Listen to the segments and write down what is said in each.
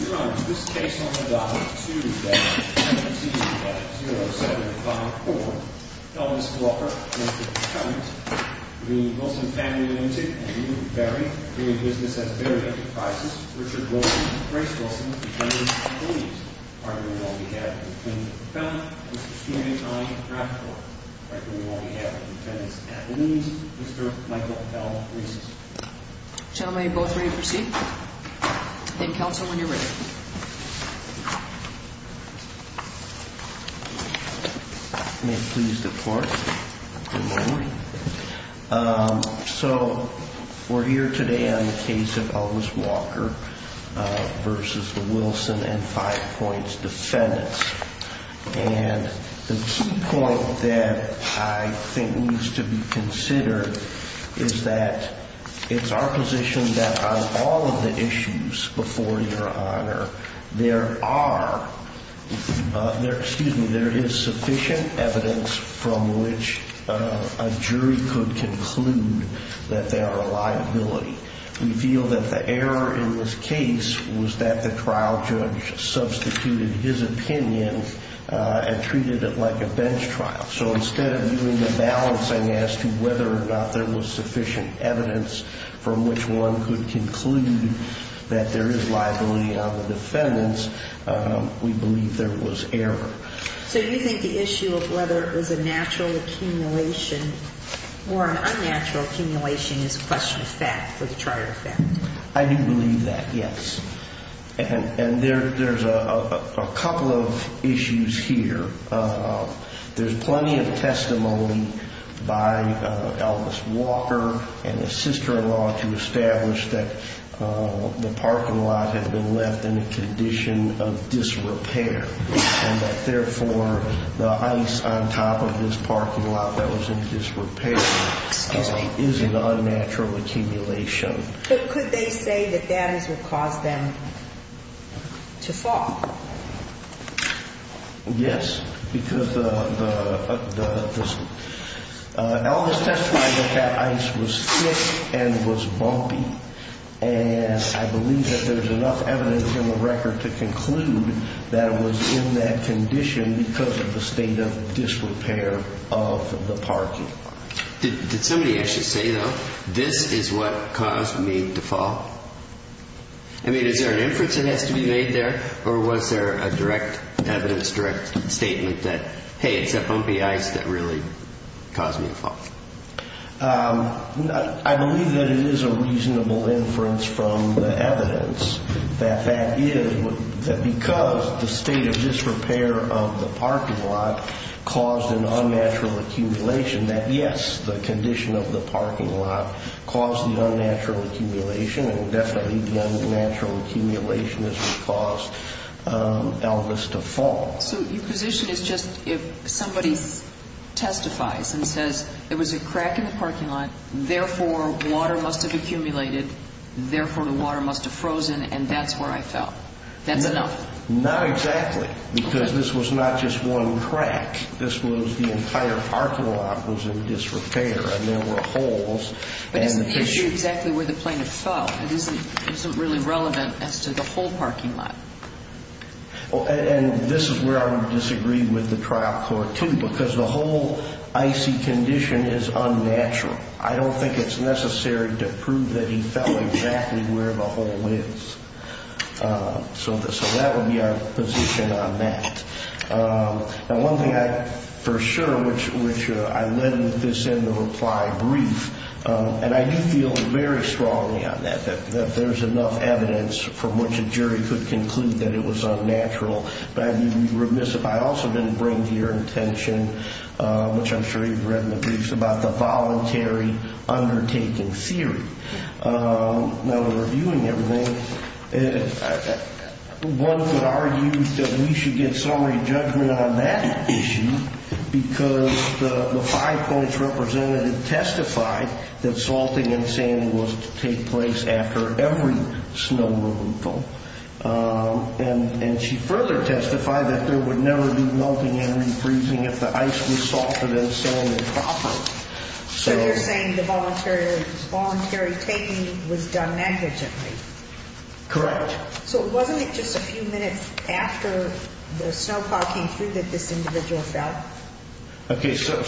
Your Honor, this case on the docket, 2-17-0754, Elvis Walker v. Hunt, the Wilson family limited and new, very, doing business at very good prices, Richard Wilson v. Grace Wilson, defendants at least, arguing on behalf of the plaintiff, the felon, Mr. Stephen A. Hine, draft court, arguing on behalf of the defendants at least, Mr. Michael L. Reese. Gentlemen, you're both ready to proceed? Then counsel, when you're ready. May it please the court. Good morning. So, we're here today on the case of Elvis Walker v. Wilson and five points defendants. It's our position that on all of the issues before you, Your Honor, there is sufficient evidence from which a jury could conclude that they are a liability. We feel that the error in this case was that the trial judge substituted his opinion and treated it like a bench trial. So, instead of doing the balancing as to whether or not there was sufficient evidence from which one could conclude that there is liability on the defendants, we believe there was error. So, you think the issue of whether it was a natural accumulation or an unnatural accumulation is a question of fact for the trial defendants? I do believe that, yes. And there's a couple of issues here. There's plenty of testimony by Elvis Walker and his sister-in-law to establish that the parking lot had been left in a condition of disrepair and that, therefore, the ice on top of this parking lot that was in disrepair is an unnatural accumulation. But could they say that that is what caused them to fall? Yes, because Elvis testified that that ice was thick and was bumpy, and I believe that there's enough evidence in the record to conclude that it was in that condition because of the state of disrepair of the parking lot. Did somebody actually say, though, this is what caused me to fall? I mean, is there an inference that has to be made there or was there a direct evidence, direct statement that, hey, it's that bumpy ice that really caused me to fall? I believe that it is a reasonable inference from the evidence that that is because the state of disrepair of the parking lot caused an unnatural accumulation, that, yes, the condition of the parking lot caused the unnatural accumulation and definitely the unnatural accumulation is what caused Elvis to fall. So your position is just if somebody testifies and says, there was a crack in the parking lot, therefore, water must have accumulated, therefore, the water must have frozen, and that's where I fell. That's enough? Not exactly because this was not just one crack. This was the entire parking lot was in disrepair, and there were holes. But isn't the issue exactly where the plaintiff fell? It isn't really relevant as to the whole parking lot. And this is where I would disagree with the trial court, too, because the whole icy condition is unnatural. I don't think it's necessary to prove that he fell exactly where the hole is. So that would be our position on that. Now, one thing I for sure, which I led with this in the reply brief, and I do feel very strongly on that, that there's enough evidence from which a jury could conclude that it was unnatural. But I do remiss if I also didn't bring to your attention, which I'm sure you've read in the briefs, about the voluntary undertaking theory. Now, reviewing everything, one could argue that we should get summary judgment on that issue because the Five Points representative testified that salting and sanding was to take place after every snow removal. And she further testified that there would never be melting and refreezing if the ice was salted and sanded properly. So you're saying the voluntary taking was done negligently? Correct. So wasn't it just a few minutes after the snowplow came through that this individual fell? Okay, so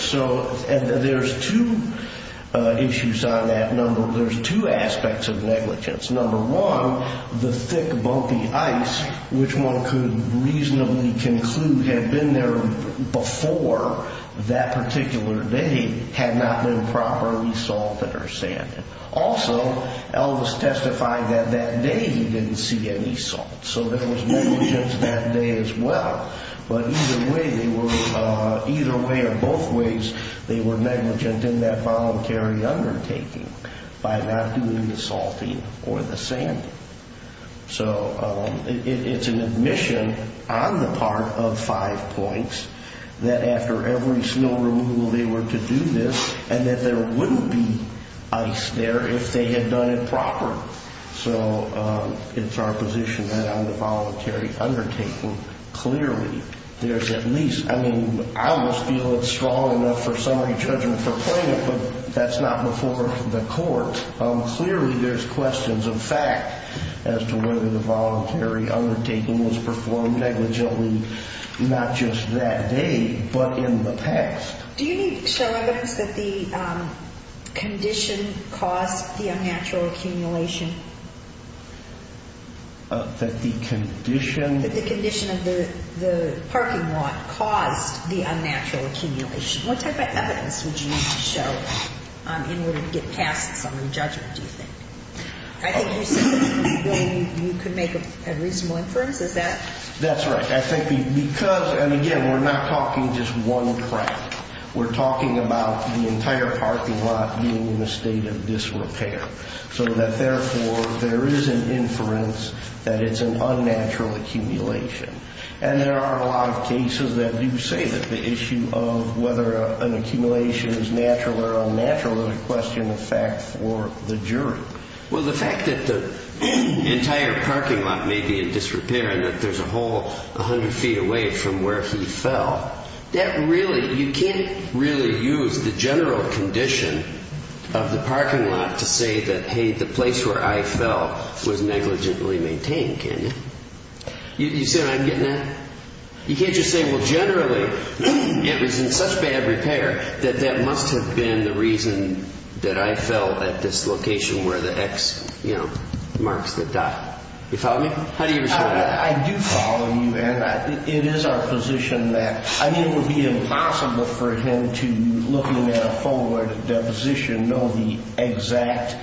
there's two issues on that. There's two aspects of negligence. Number one, the thick, bumpy ice, which one could reasonably conclude had been there before that particular day, had not been properly salted or sanded. Also, Elvis testified that that day he didn't see any salt. So there was negligence that day as well. But either way they were, either way or both ways, they were negligent in that voluntary undertaking by not doing the salting or the sanding. So it's an admission on the part of Five Points that after every snow removal they were to do this and that there wouldn't be ice there if they had done it properly. So it's our position that on the voluntary undertaking, clearly there's at least, I mean, I almost feel it's strong enough for summary judgment for plaintiff, but that's not before the court. Clearly there's questions of fact as to whether the voluntary undertaking was performed negligently not just that day but in the past. Do you need to show evidence that the condition caused the unnatural accumulation? That the condition? That the condition of the parking lot caused the unnatural accumulation. What type of evidence would you need to show in order to get past summary judgment, do you think? I think you said you could make a reasonable inference, is that? That's right. I think because, and again, we're not talking just one crime. We're talking about the entire parking lot being in a state of disrepair so that therefore there is an inference that it's an unnatural accumulation. And there are a lot of cases that do say that the issue of whether an accumulation is natural or unnatural is a question of fact for the jury. Well, the fact that the entire parking lot may be in disrepair and that there's a hole 100 feet away from where he fell, you can't really use the general condition of the parking lot to say that, hey, the place where I fell was negligently maintained, can you? You see what I'm getting at? You can't just say, well, generally it was in such bad repair that that must have been the reason that I fell at this location where the X marks the dot. Do you follow me? How do you respond to that? I do follow you, and it is our position that, I mean, it would be impossible for him to, looking at a photo at a deposition, know the exact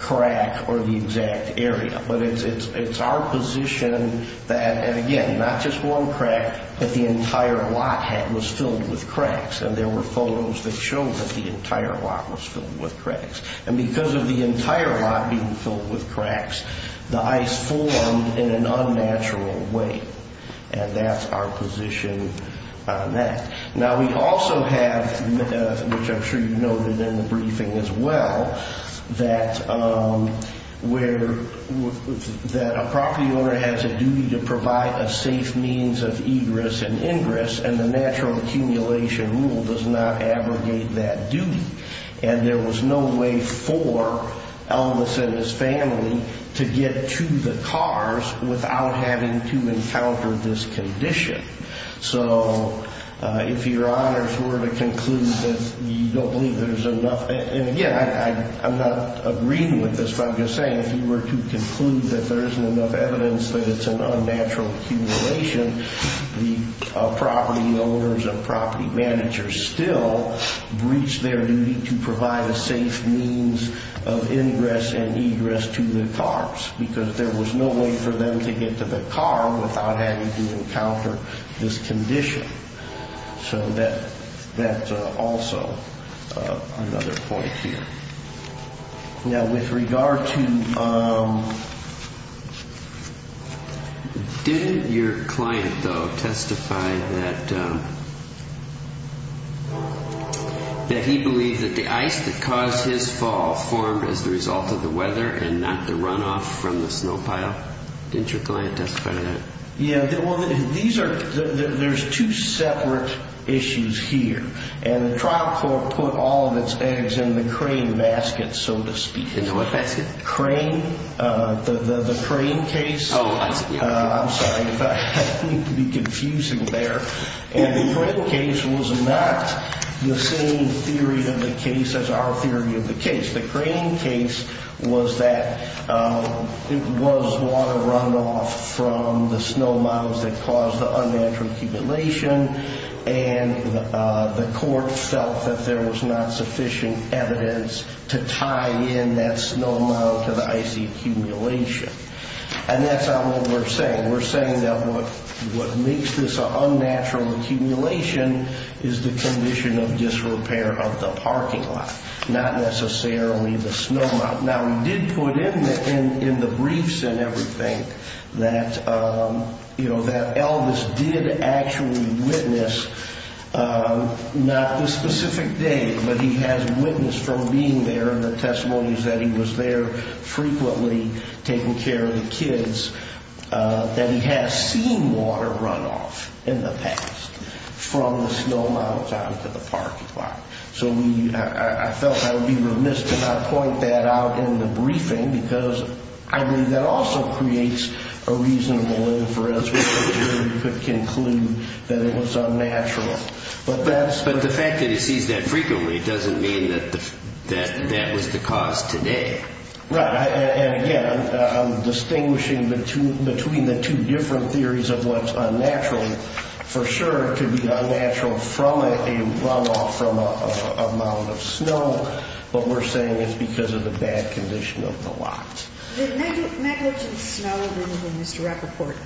crack or the exact area. But it's our position that, and again, not just one crack, but the entire lot was filled with cracks, and there were photos that showed that the entire lot was filled with cracks. And because of the entire lot being filled with cracks, the ice formed in an unnatural way, and that's our position on that. Now, we also have, which I'm sure you noted in the briefing as well, that a property owner has a duty to provide a safe means of egress and ingress, and the natural accumulation rule does not abrogate that duty. And there was no way for Elvis and his family to get to the cars without having to encounter this condition. So if your honors were to conclude that you don't believe there's enough, and again, I'm not agreeing with this, but I'm just saying, if you were to conclude that there isn't enough evidence that it's an unnatural accumulation, the property owners and property managers still breach their duty to provide a safe means of ingress and egress to the cars because there was no way for them to get to the car without having to encounter this condition. So that's also another point here. Now, with regard to... Didn't your client, though, testify that he believed that the ice that caused his fall formed as a result of the weather and not the runoff from the snow pile? Didn't your client testify to that? Yeah. Well, there's two separate issues here. And the trial court put all of its eggs in the crane basket, so to speak. In the what basket? Crane. The crane case. Oh, I see. I'm sorry. I didn't mean to be confusing there. And the crane case was not the same theory of the case as our theory of the case. The crane case was that it was water runoff from the snow piles that caused the unnatural accumulation, and the court felt that there was not sufficient evidence to tie in that snow pile to the icy accumulation. And that's not what we're saying. We're saying that what makes this an unnatural accumulation is the condition of disrepair of the parking lot, not necessarily the snow pile. Now, we did put in the briefs and everything that, you know, that Elvis did actually witness not this specific day, but he has witnessed from being there, and the testimony is that he was there frequently taking care of the kids, that he has seen water runoff in the past from the snow pile down to the parking lot. So I felt I would be remiss to not point that out in the briefing because I believe that also creates a reasonable inference which could conclude that it was unnatural. But the fact that he sees that frequently doesn't mean that that was the cause today. Right. And again, I'm distinguishing between the two different theories of what's unnatural. For sure, it could be unnatural from a runoff from a mound of snow, but we're saying it's because of the bad condition of the lot. The negligent snow removal, Mr. Epperport,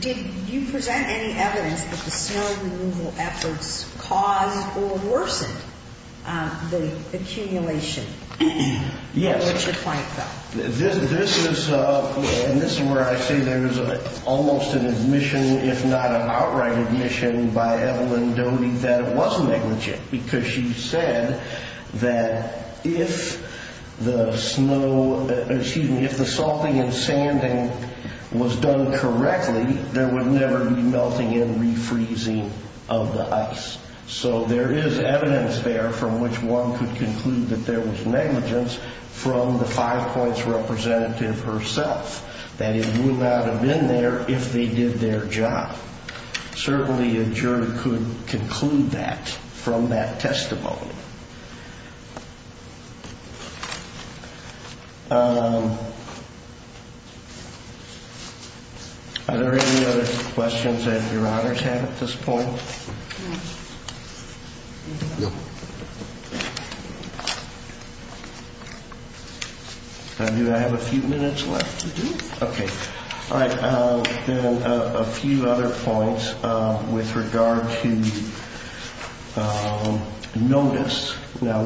did you present any evidence that the snow removal efforts caused or worsened the accumulation? Yes. What's your point, though? This is where I say there's almost an admission, if not an outright admission, by Evelyn Doty that it was negligent because she said that if the salting and sanding was done correctly, there would never be melting and refreezing of the ice. So there is evidence there from which one could conclude that there was negligence from the Five Points representative herself, that it would not have been there if they did their job. Certainly, a jury could conclude that from that testimony. Are there any other questions that your honors have at this point? No. Do I have a few minutes left? You do. Okay. All right. Then a few other points with regard to notice. Now,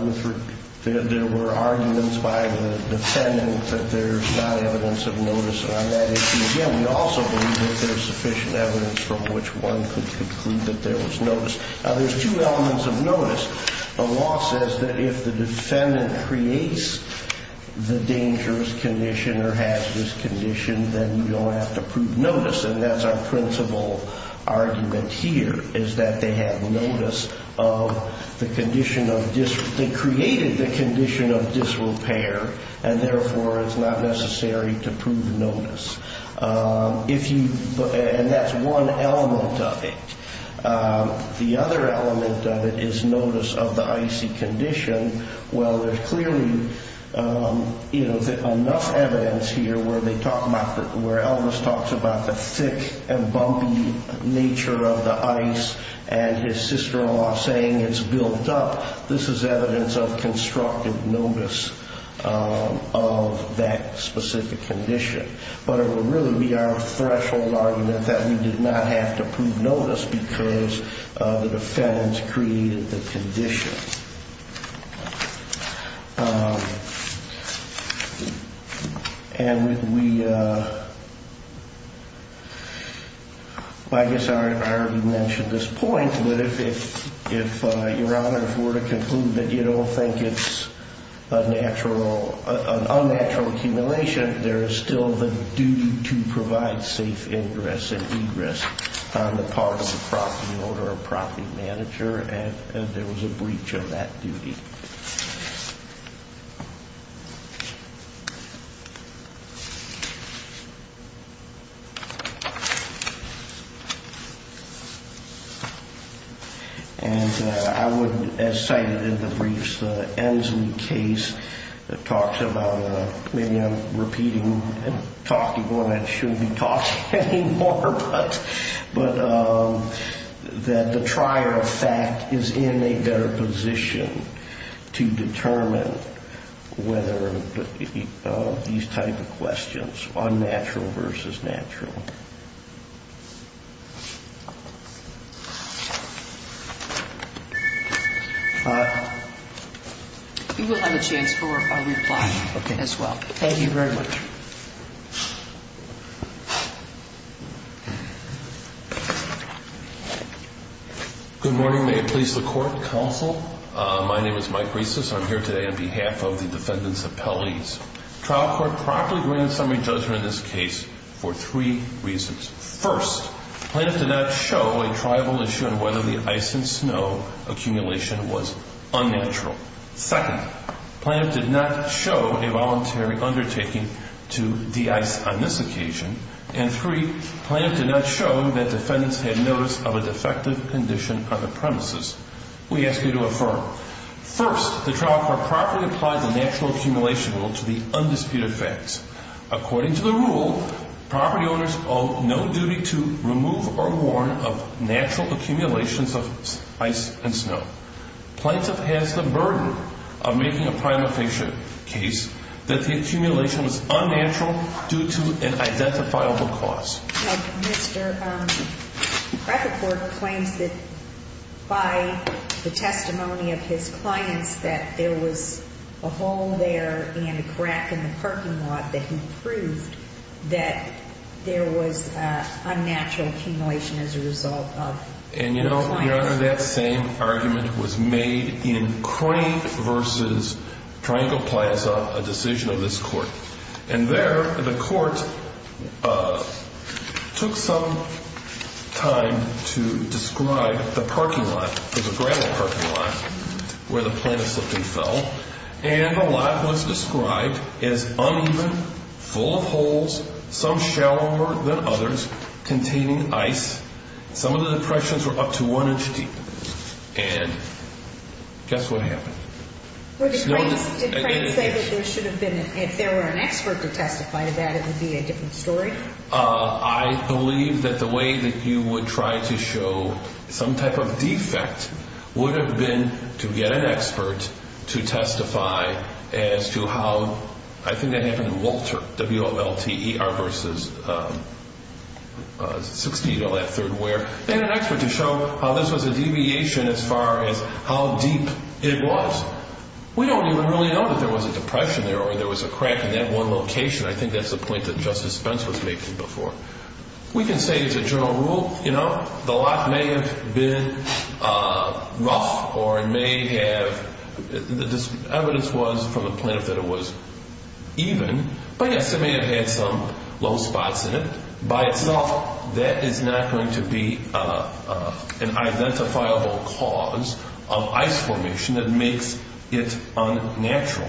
there were arguments by the defendant that there's not evidence of notice on that issue. Again, we also believe that there's sufficient evidence from which one could conclude that there was notice. Now, there's two elements of notice. The law says that if the defendant creates the dangerous condition or has this condition, then you don't have to prove notice, and that's our principal argument here, is that they had notice of the condition of dis- they created the condition of disrepair and, therefore, it's not necessary to prove notice. And that's one element of it. The other element of it is notice of the icy condition. Well, there's clearly enough evidence here where they talk about, where Elvis talks about the thick and bumpy nature of the ice and his sister-in-law saying it's built up. This is evidence of constructive notice of that specific condition. But it would really be our threshold argument that we did not have to prove notice because the defense created the condition. And we, I guess I already mentioned this point, but if Your Honor were to conclude that you don't think it's a natural, an unnatural accumulation, there is still the duty to provide safe ingress and egress on the part of the property owner or property manager, and there was a breach of that duty. And I would, as cited in the briefs, the Ensley case that talks about, maybe I'm repeating and talking more than I should be talking anymore, but that the trier of fact is in a better position to determine whether these type of questions, unnatural versus natural. You will have a chance for a reply as well. Thank you very much. Good morning. May it please the Court, Counsel. My name is Mike Reisis. I'm here today on behalf of the defendants' appellees. Trial Court promptly granted summary judgment in this case for three reasons. First, plaintiff did not show a triable issue on whether the ice and snow accumulation was unnatural. Second, plaintiff did not show a voluntary undertaking to de-ice on this occasion. And three, plaintiff did not show that defendants had notice of a defective condition on the premises. We ask you to affirm. First, the trial court properly applied the natural accumulation rule to the undisputed facts. According to the rule, property owners owe no duty to remove or warn of natural accumulations of ice and snow. Plaintiff has the burden of making a prima facie case that the accumulation was unnatural due to an identifiable cause. Well, Mr. Krakenfurt claims that by the testimony of his clients that there was a hole there and a crack in the parking lot that he proved that there was unnatural accumulation as a result of clients. And you know, Your Honor, that same argument was made in Crank v. Triangle Plaza, a decision of this court. And there, the court took some time to describe the parking lot. It was a gravel parking lot where the plaintiff slipped and fell. And the lot was described as uneven, full of holes, some shallower than others, containing ice. Some of the depressions were up to one inch deep. And guess what happened? Did Crank say that there should have been, if there were an expert to testify to that, it would be a different story? I believe that the way that you would try to show some type of defect would have been to get an expert to testify as to how, I think that happened in Walter, W-O-L-T-E-R v. Sixtino at Third Ware. They had an expert to show how this was a deviation as far as how deep it was. We don't even really know that there was a depression there or there was a crack in that one location. I think that's the point that Justice Spence was making before. We can say as a general rule, you know, the lot may have been rough or it may have, the evidence was from the plaintiff that it was even. But yes, it may have had some low spots in it. By itself, that is not going to be an identifiable cause of ice formation that makes it unnatural.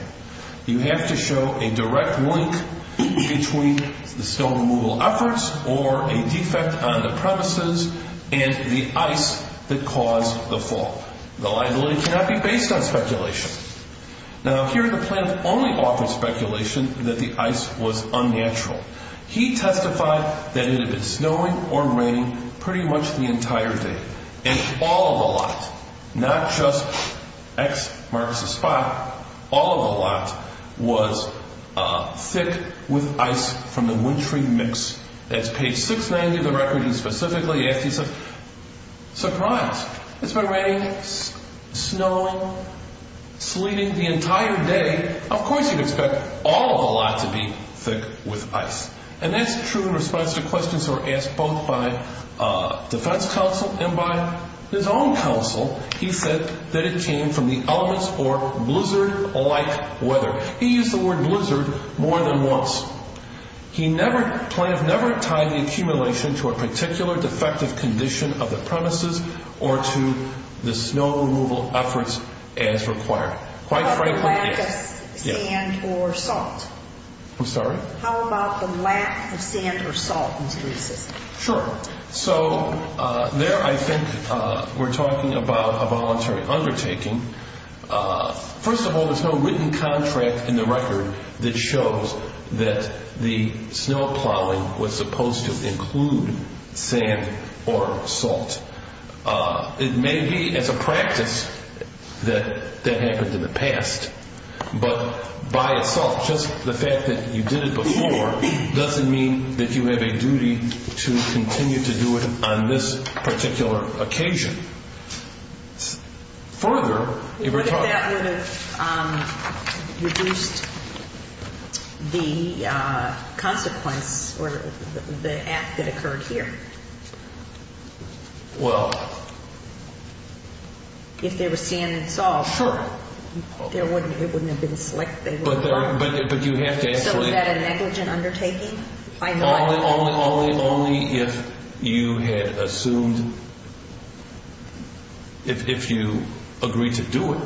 You have to show a direct link between the snow removal efforts or a defect on the premises and the ice that caused the fall. The liability cannot be based on speculation. Now, here the plaintiff only offered speculation that the ice was unnatural. He testified that it had been snowing or raining pretty much the entire day. And all of the lot, not just X marks the spot, all of the lot was thick with ice from the wintry mix. That's page 690 of the record. And specifically, he said, surprise, it's been raining, snowing, sleeting the entire day. Of course, you'd expect all of the lot to be thick with ice. And that's true in response to questions that were asked both by defense counsel and by his own counsel. He said that it came from the elements or blizzard-like weather. He used the word blizzard more than once. He never, plaintiff never tied the accumulation to a particular defective condition of the premises or to the snow removal efforts as required. Quite frankly, yes. Sand or salt? I'm sorry? How about the lack of sand or salt in these cases? Sure. So there I think we're talking about a voluntary undertaking. First of all, there's no written contract in the record that shows that the snow plowing was supposed to include sand or salt. It may be as a practice that that happened in the past. But by itself, just the fact that you did it before doesn't mean that you have a duty to continue to do it on this particular occasion. What if that would have reduced the consequence or the act that occurred here? Well. If there was sand and salt. Sure. It wouldn't have been selected. But you have to actually. So is that a negligent undertaking? Only if you had assumed, if you agreed to do it.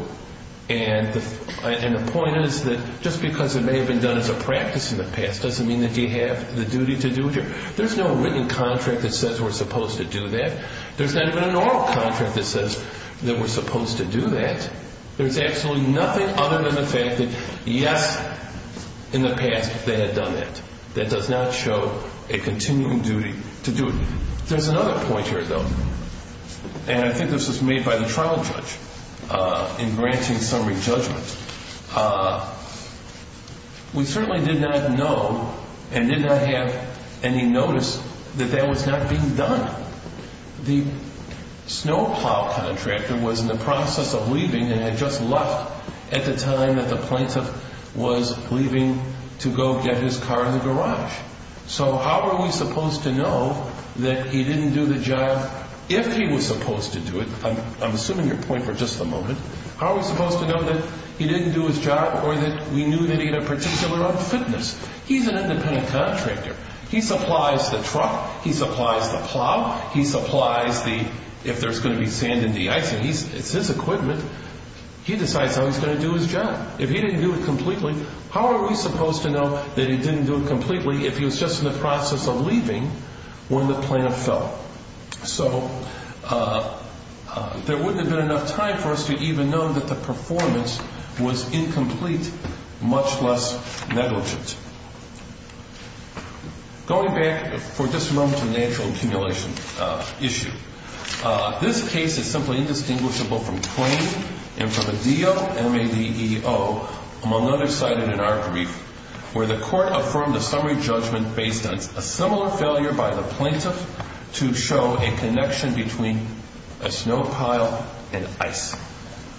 And the point is that just because it may have been done as a practice in the past doesn't mean that you have the duty to do it here. There's no written contract that says we're supposed to do that. There's not even a normal contract that says that we're supposed to do that. There's absolutely nothing other than the fact that, yes, in the past they had done that. That does not show a continuing duty to do it. There's another point here, though. And I think this was made by the trial judge in granting summary judgment. We certainly did not know and did not have any notice that that was not being done. The snow plow contractor was in the process of leaving and had just left at the time that the plaintiff was leaving to go get his car in the garage. So how are we supposed to know that he didn't do the job if he was supposed to do it? I'm assuming your point for just a moment. How are we supposed to know that he didn't do his job or that we knew that he had a particular unfitness? He's an independent contractor. He supplies the truck. He supplies the plow. He supplies the, if there's going to be sand in the icing, it's his equipment. He decides how he's going to do his job. If he didn't do it completely, how are we supposed to know that he didn't do it completely if he was just in the process of leaving when the plaintiff fell? So there wouldn't have been enough time for us to even know that the performance was incomplete, much less negligent. Going back for just a moment to the natural accumulation issue. This case is simply indistinguishable from claim and from a DO-MADEO, among others cited in our brief, where the court affirmed a summary judgment based on a similar failure by the plaintiff to show a connection between a snow pile and ice.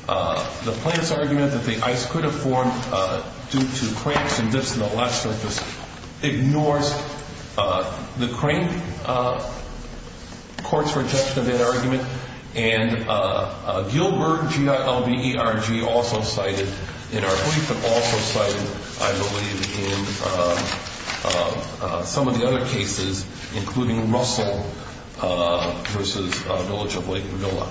The plaintiff's argument that the ice could have formed due to cranks and dips in the lot surface ignores the crank court's rejection of that argument. And Gilbert, G-I-L-B-E-R-G, also cited in our brief, but also cited, I believe, in some of the other cases, including Russell v. Village of Lake Mavilla.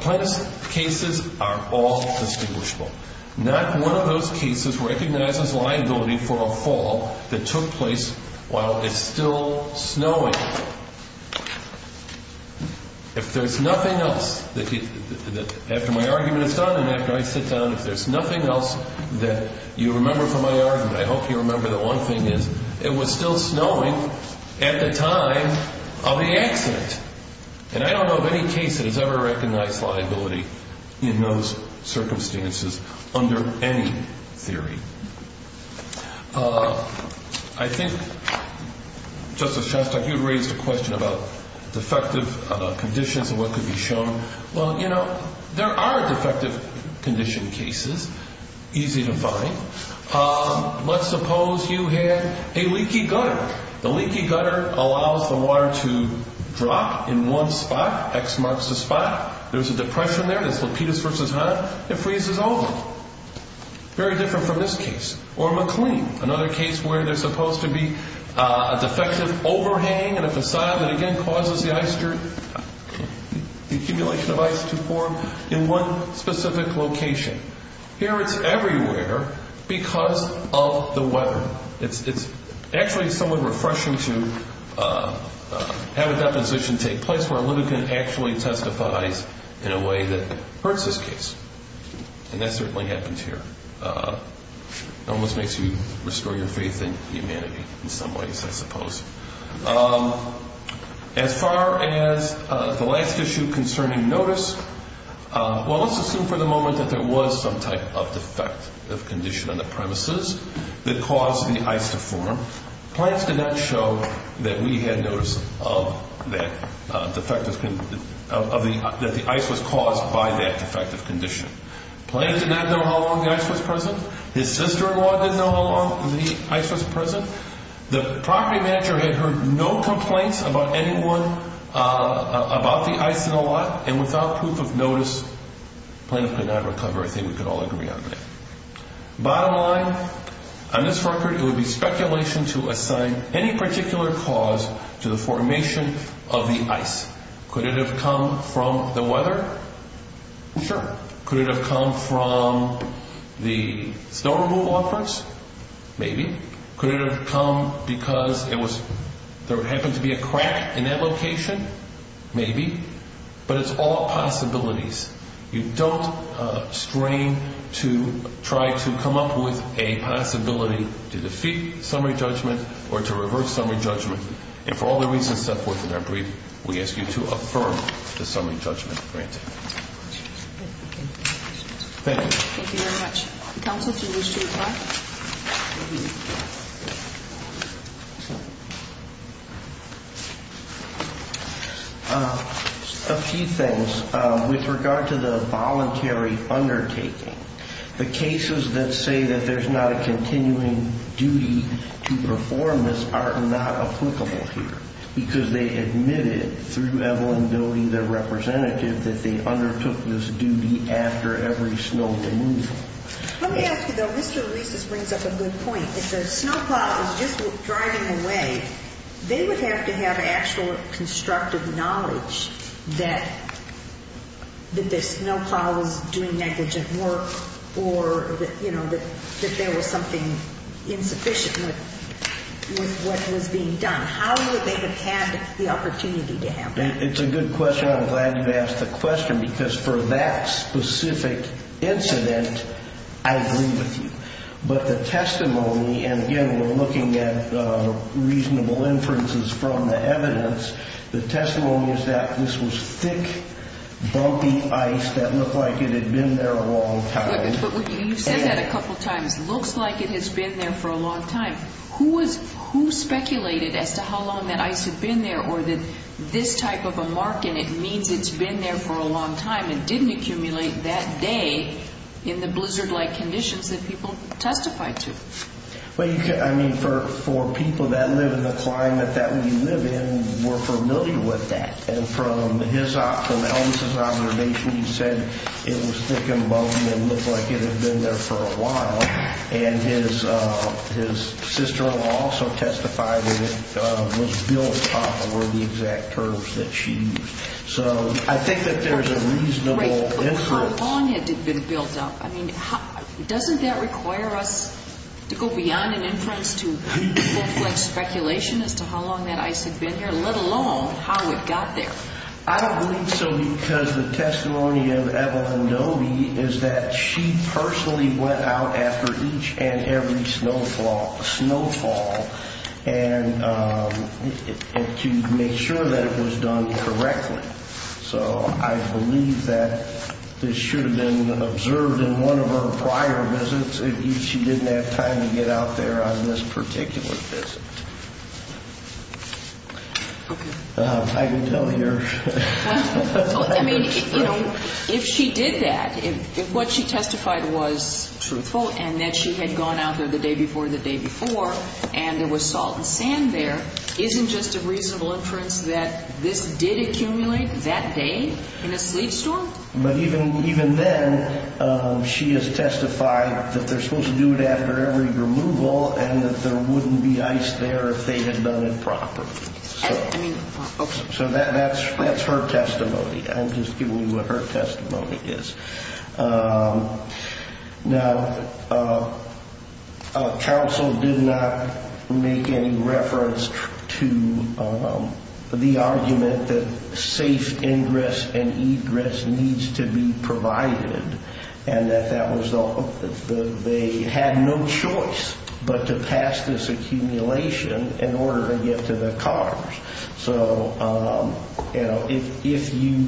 Plaintiff's cases are all distinguishable. Not one of those cases recognizes liability for a fall that took place while it's still snowing. If there's nothing else, after my argument is done and after I sit down, if there's nothing else that you remember from my argument, I hope you remember that one thing is it was still snowing at the time of the accident. And I don't know of any case that has ever recognized liability in those circumstances under any theory. I think, Justice Shostak, you raised a question about defective conditions and what could be shown. Well, you know, there are defective condition cases, easy to find. Let's suppose you had a leaky gutter. The leaky gutter allows the water to drop in one spot, X marks the spot. There's a depression there, that's Lapidus v. Hahn, it freezes over. Very different from this case. Or McLean, another case where there's supposed to be a defective overhang and a façade that again causes the accumulation of ice to form in one specific location. Here it's everywhere because of the weather. So it's actually somewhat refreshing to have a deposition take place where a litigant actually testifies in a way that hurts this case. And that certainly happens here. It almost makes you restore your faith in humanity in some ways, I suppose. As far as the last issue concerning notice, well, let's assume for the moment that there was some type of defect, defective condition on the premises that caused the ice to form. Plaintiff did not show that we had notice of that defective, that the ice was caused by that defective condition. Plaintiff did not know how long the ice was present. His sister-in-law didn't know how long the ice was present. The property manager had heard no complaints about anyone, about the ice in the lot. And without proof of notice, Plaintiff could not recover. I think we could all agree on that. Bottom line, on this record, it would be speculation to assign any particular cause to the formation of the ice. Could it have come from the weather? Sure. Could it have come from the snow removal efforts? Maybe. Could it have come because there happened to be a crack in that location? Maybe. But it's all possibilities. You don't strain to try to come up with a possibility to defeat summary judgment or to reverse summary judgment. And for all the reasons set forth in our brief, we ask you to affirm the summary judgment granted. Thank you. Thank you very much. Counsel, if you wish to reply. Thank you. A few things. With regard to the voluntary undertaking, the cases that say that there's not a continuing duty to perform this are not applicable here because they admitted through Evelyn Doty, their representative, that they undertook this duty after every snow removal. Let me ask you, though. Mr. Reese's brings up a good point. If the snowplow was just driving away, they would have to have actual constructive knowledge that the snowplow was doing negligent work or that there was something insufficient with what was being done. How would they have had the opportunity to have that? It's a good question. I'm glad you asked the question because for that specific incident, I agree with you. But the testimony, and, again, we're looking at reasonable inferences from the evidence, the testimony is that this was thick, bumpy ice that looked like it had been there a long time. But you've said that a couple times, looks like it has been there for a long time. Who speculated as to how long that ice had been there or that this type of a mark in it means it's been there for a long time and didn't accumulate that day in the blizzard-like conditions that people testified to? I mean, for people that live in the climate that we live in, we're familiar with that. And from his observation, he said it was thick and bumpy and looked like it had been there for a while. And his sister-in-law also testified that it was built up where the exact curves that she used. So I think that there's a reasonable inference. But how long had it been built up? I mean, doesn't that require us to go beyond an inference to full-fledged speculation as to how long that ice had been there, let alone how it got there? I believe so because the testimony of Eva Ndobi is that she personally went out after each and every snowfall to make sure that it was done correctly. So I believe that this should have been observed in one of her prior visits if she didn't have time to get out there on this particular visit. I can tell here. I mean, if she did that, if what she testified was truthful and that she had gone out there the day before the day before and there was salt and sand there, isn't just a reasonable inference that this did accumulate that day in a sleet storm? But even then, she has testified that they're supposed to do it after every removal and that there wouldn't be ice there if they had done it properly. So that's her testimony. I'm just giving you what her testimony is. Now, counsel did not make any reference to the argument that safe ingress and egress needs to be provided and that they had no choice but to pass this accumulation in order to get to the cars. So, you know, if you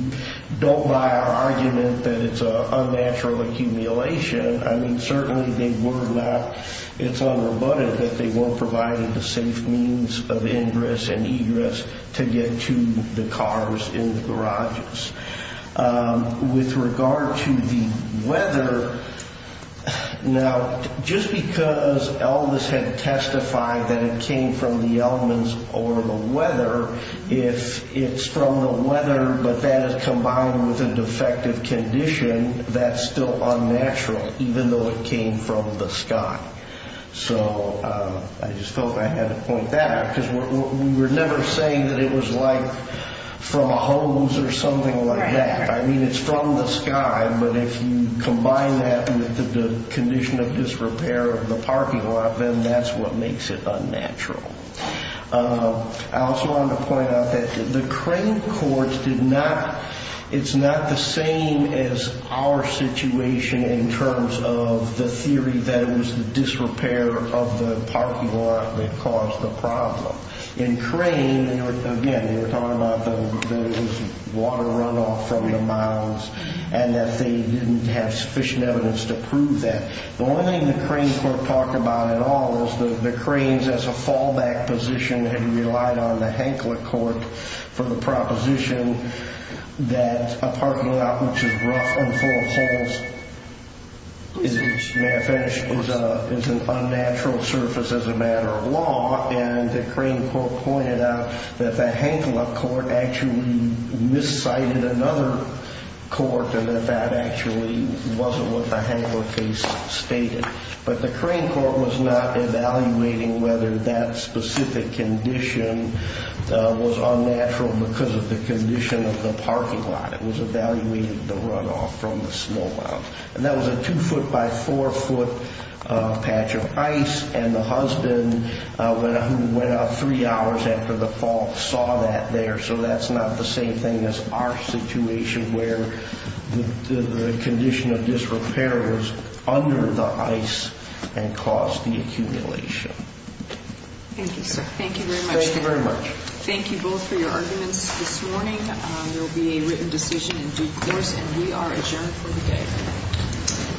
don't buy our argument that it's an unnatural accumulation, I mean, certainly they were not. It's unrebutted that they weren't providing the safe means of ingress and egress to get to the cars in the garages. With regard to the weather, now, just because Elvis had testified that it came from the elements or the weather, if it's from the weather but that is combined with a defective condition, that's still unnatural even though it came from the sky. So I just felt I had to point that out because we were never saying that it was like from a hose or something like that. I mean, it's from the sky, but if you combine that with the condition of disrepair of the parking lot, then that's what makes it unnatural. I also wanted to point out that the credit courts did not, it's not the same as our situation in terms of the theory that it was the disrepair of the parking lot that caused the problem. In Crane, again, they were talking about the water runoff from the mounds and that they didn't have sufficient evidence to prove that. The only thing the Crane court talked about at all was the Cranes as a fallback position and relied on the Hankler court for the proposition that a parking lot which is rough and full of holes is an unnatural surface as a matter of law, and the Crane court pointed out that the Hankler court actually miscited another court and that that actually wasn't what the Hankler case stated. But the Crane court was not evaluating whether that specific condition was unnatural because of the condition of the parking lot. It was evaluating the runoff from the small mounds. And that was a two-foot by four-foot patch of ice, and the husband, who went out three hours after the fall, saw that there. So that's not the same thing as our situation where the condition of disrepair was under the ice and caused the accumulation. Thank you, sir. Thank you very much. Thank you very much. Thank you both for your arguments this morning. There will be a written decision in due course, and we are adjourned for the day.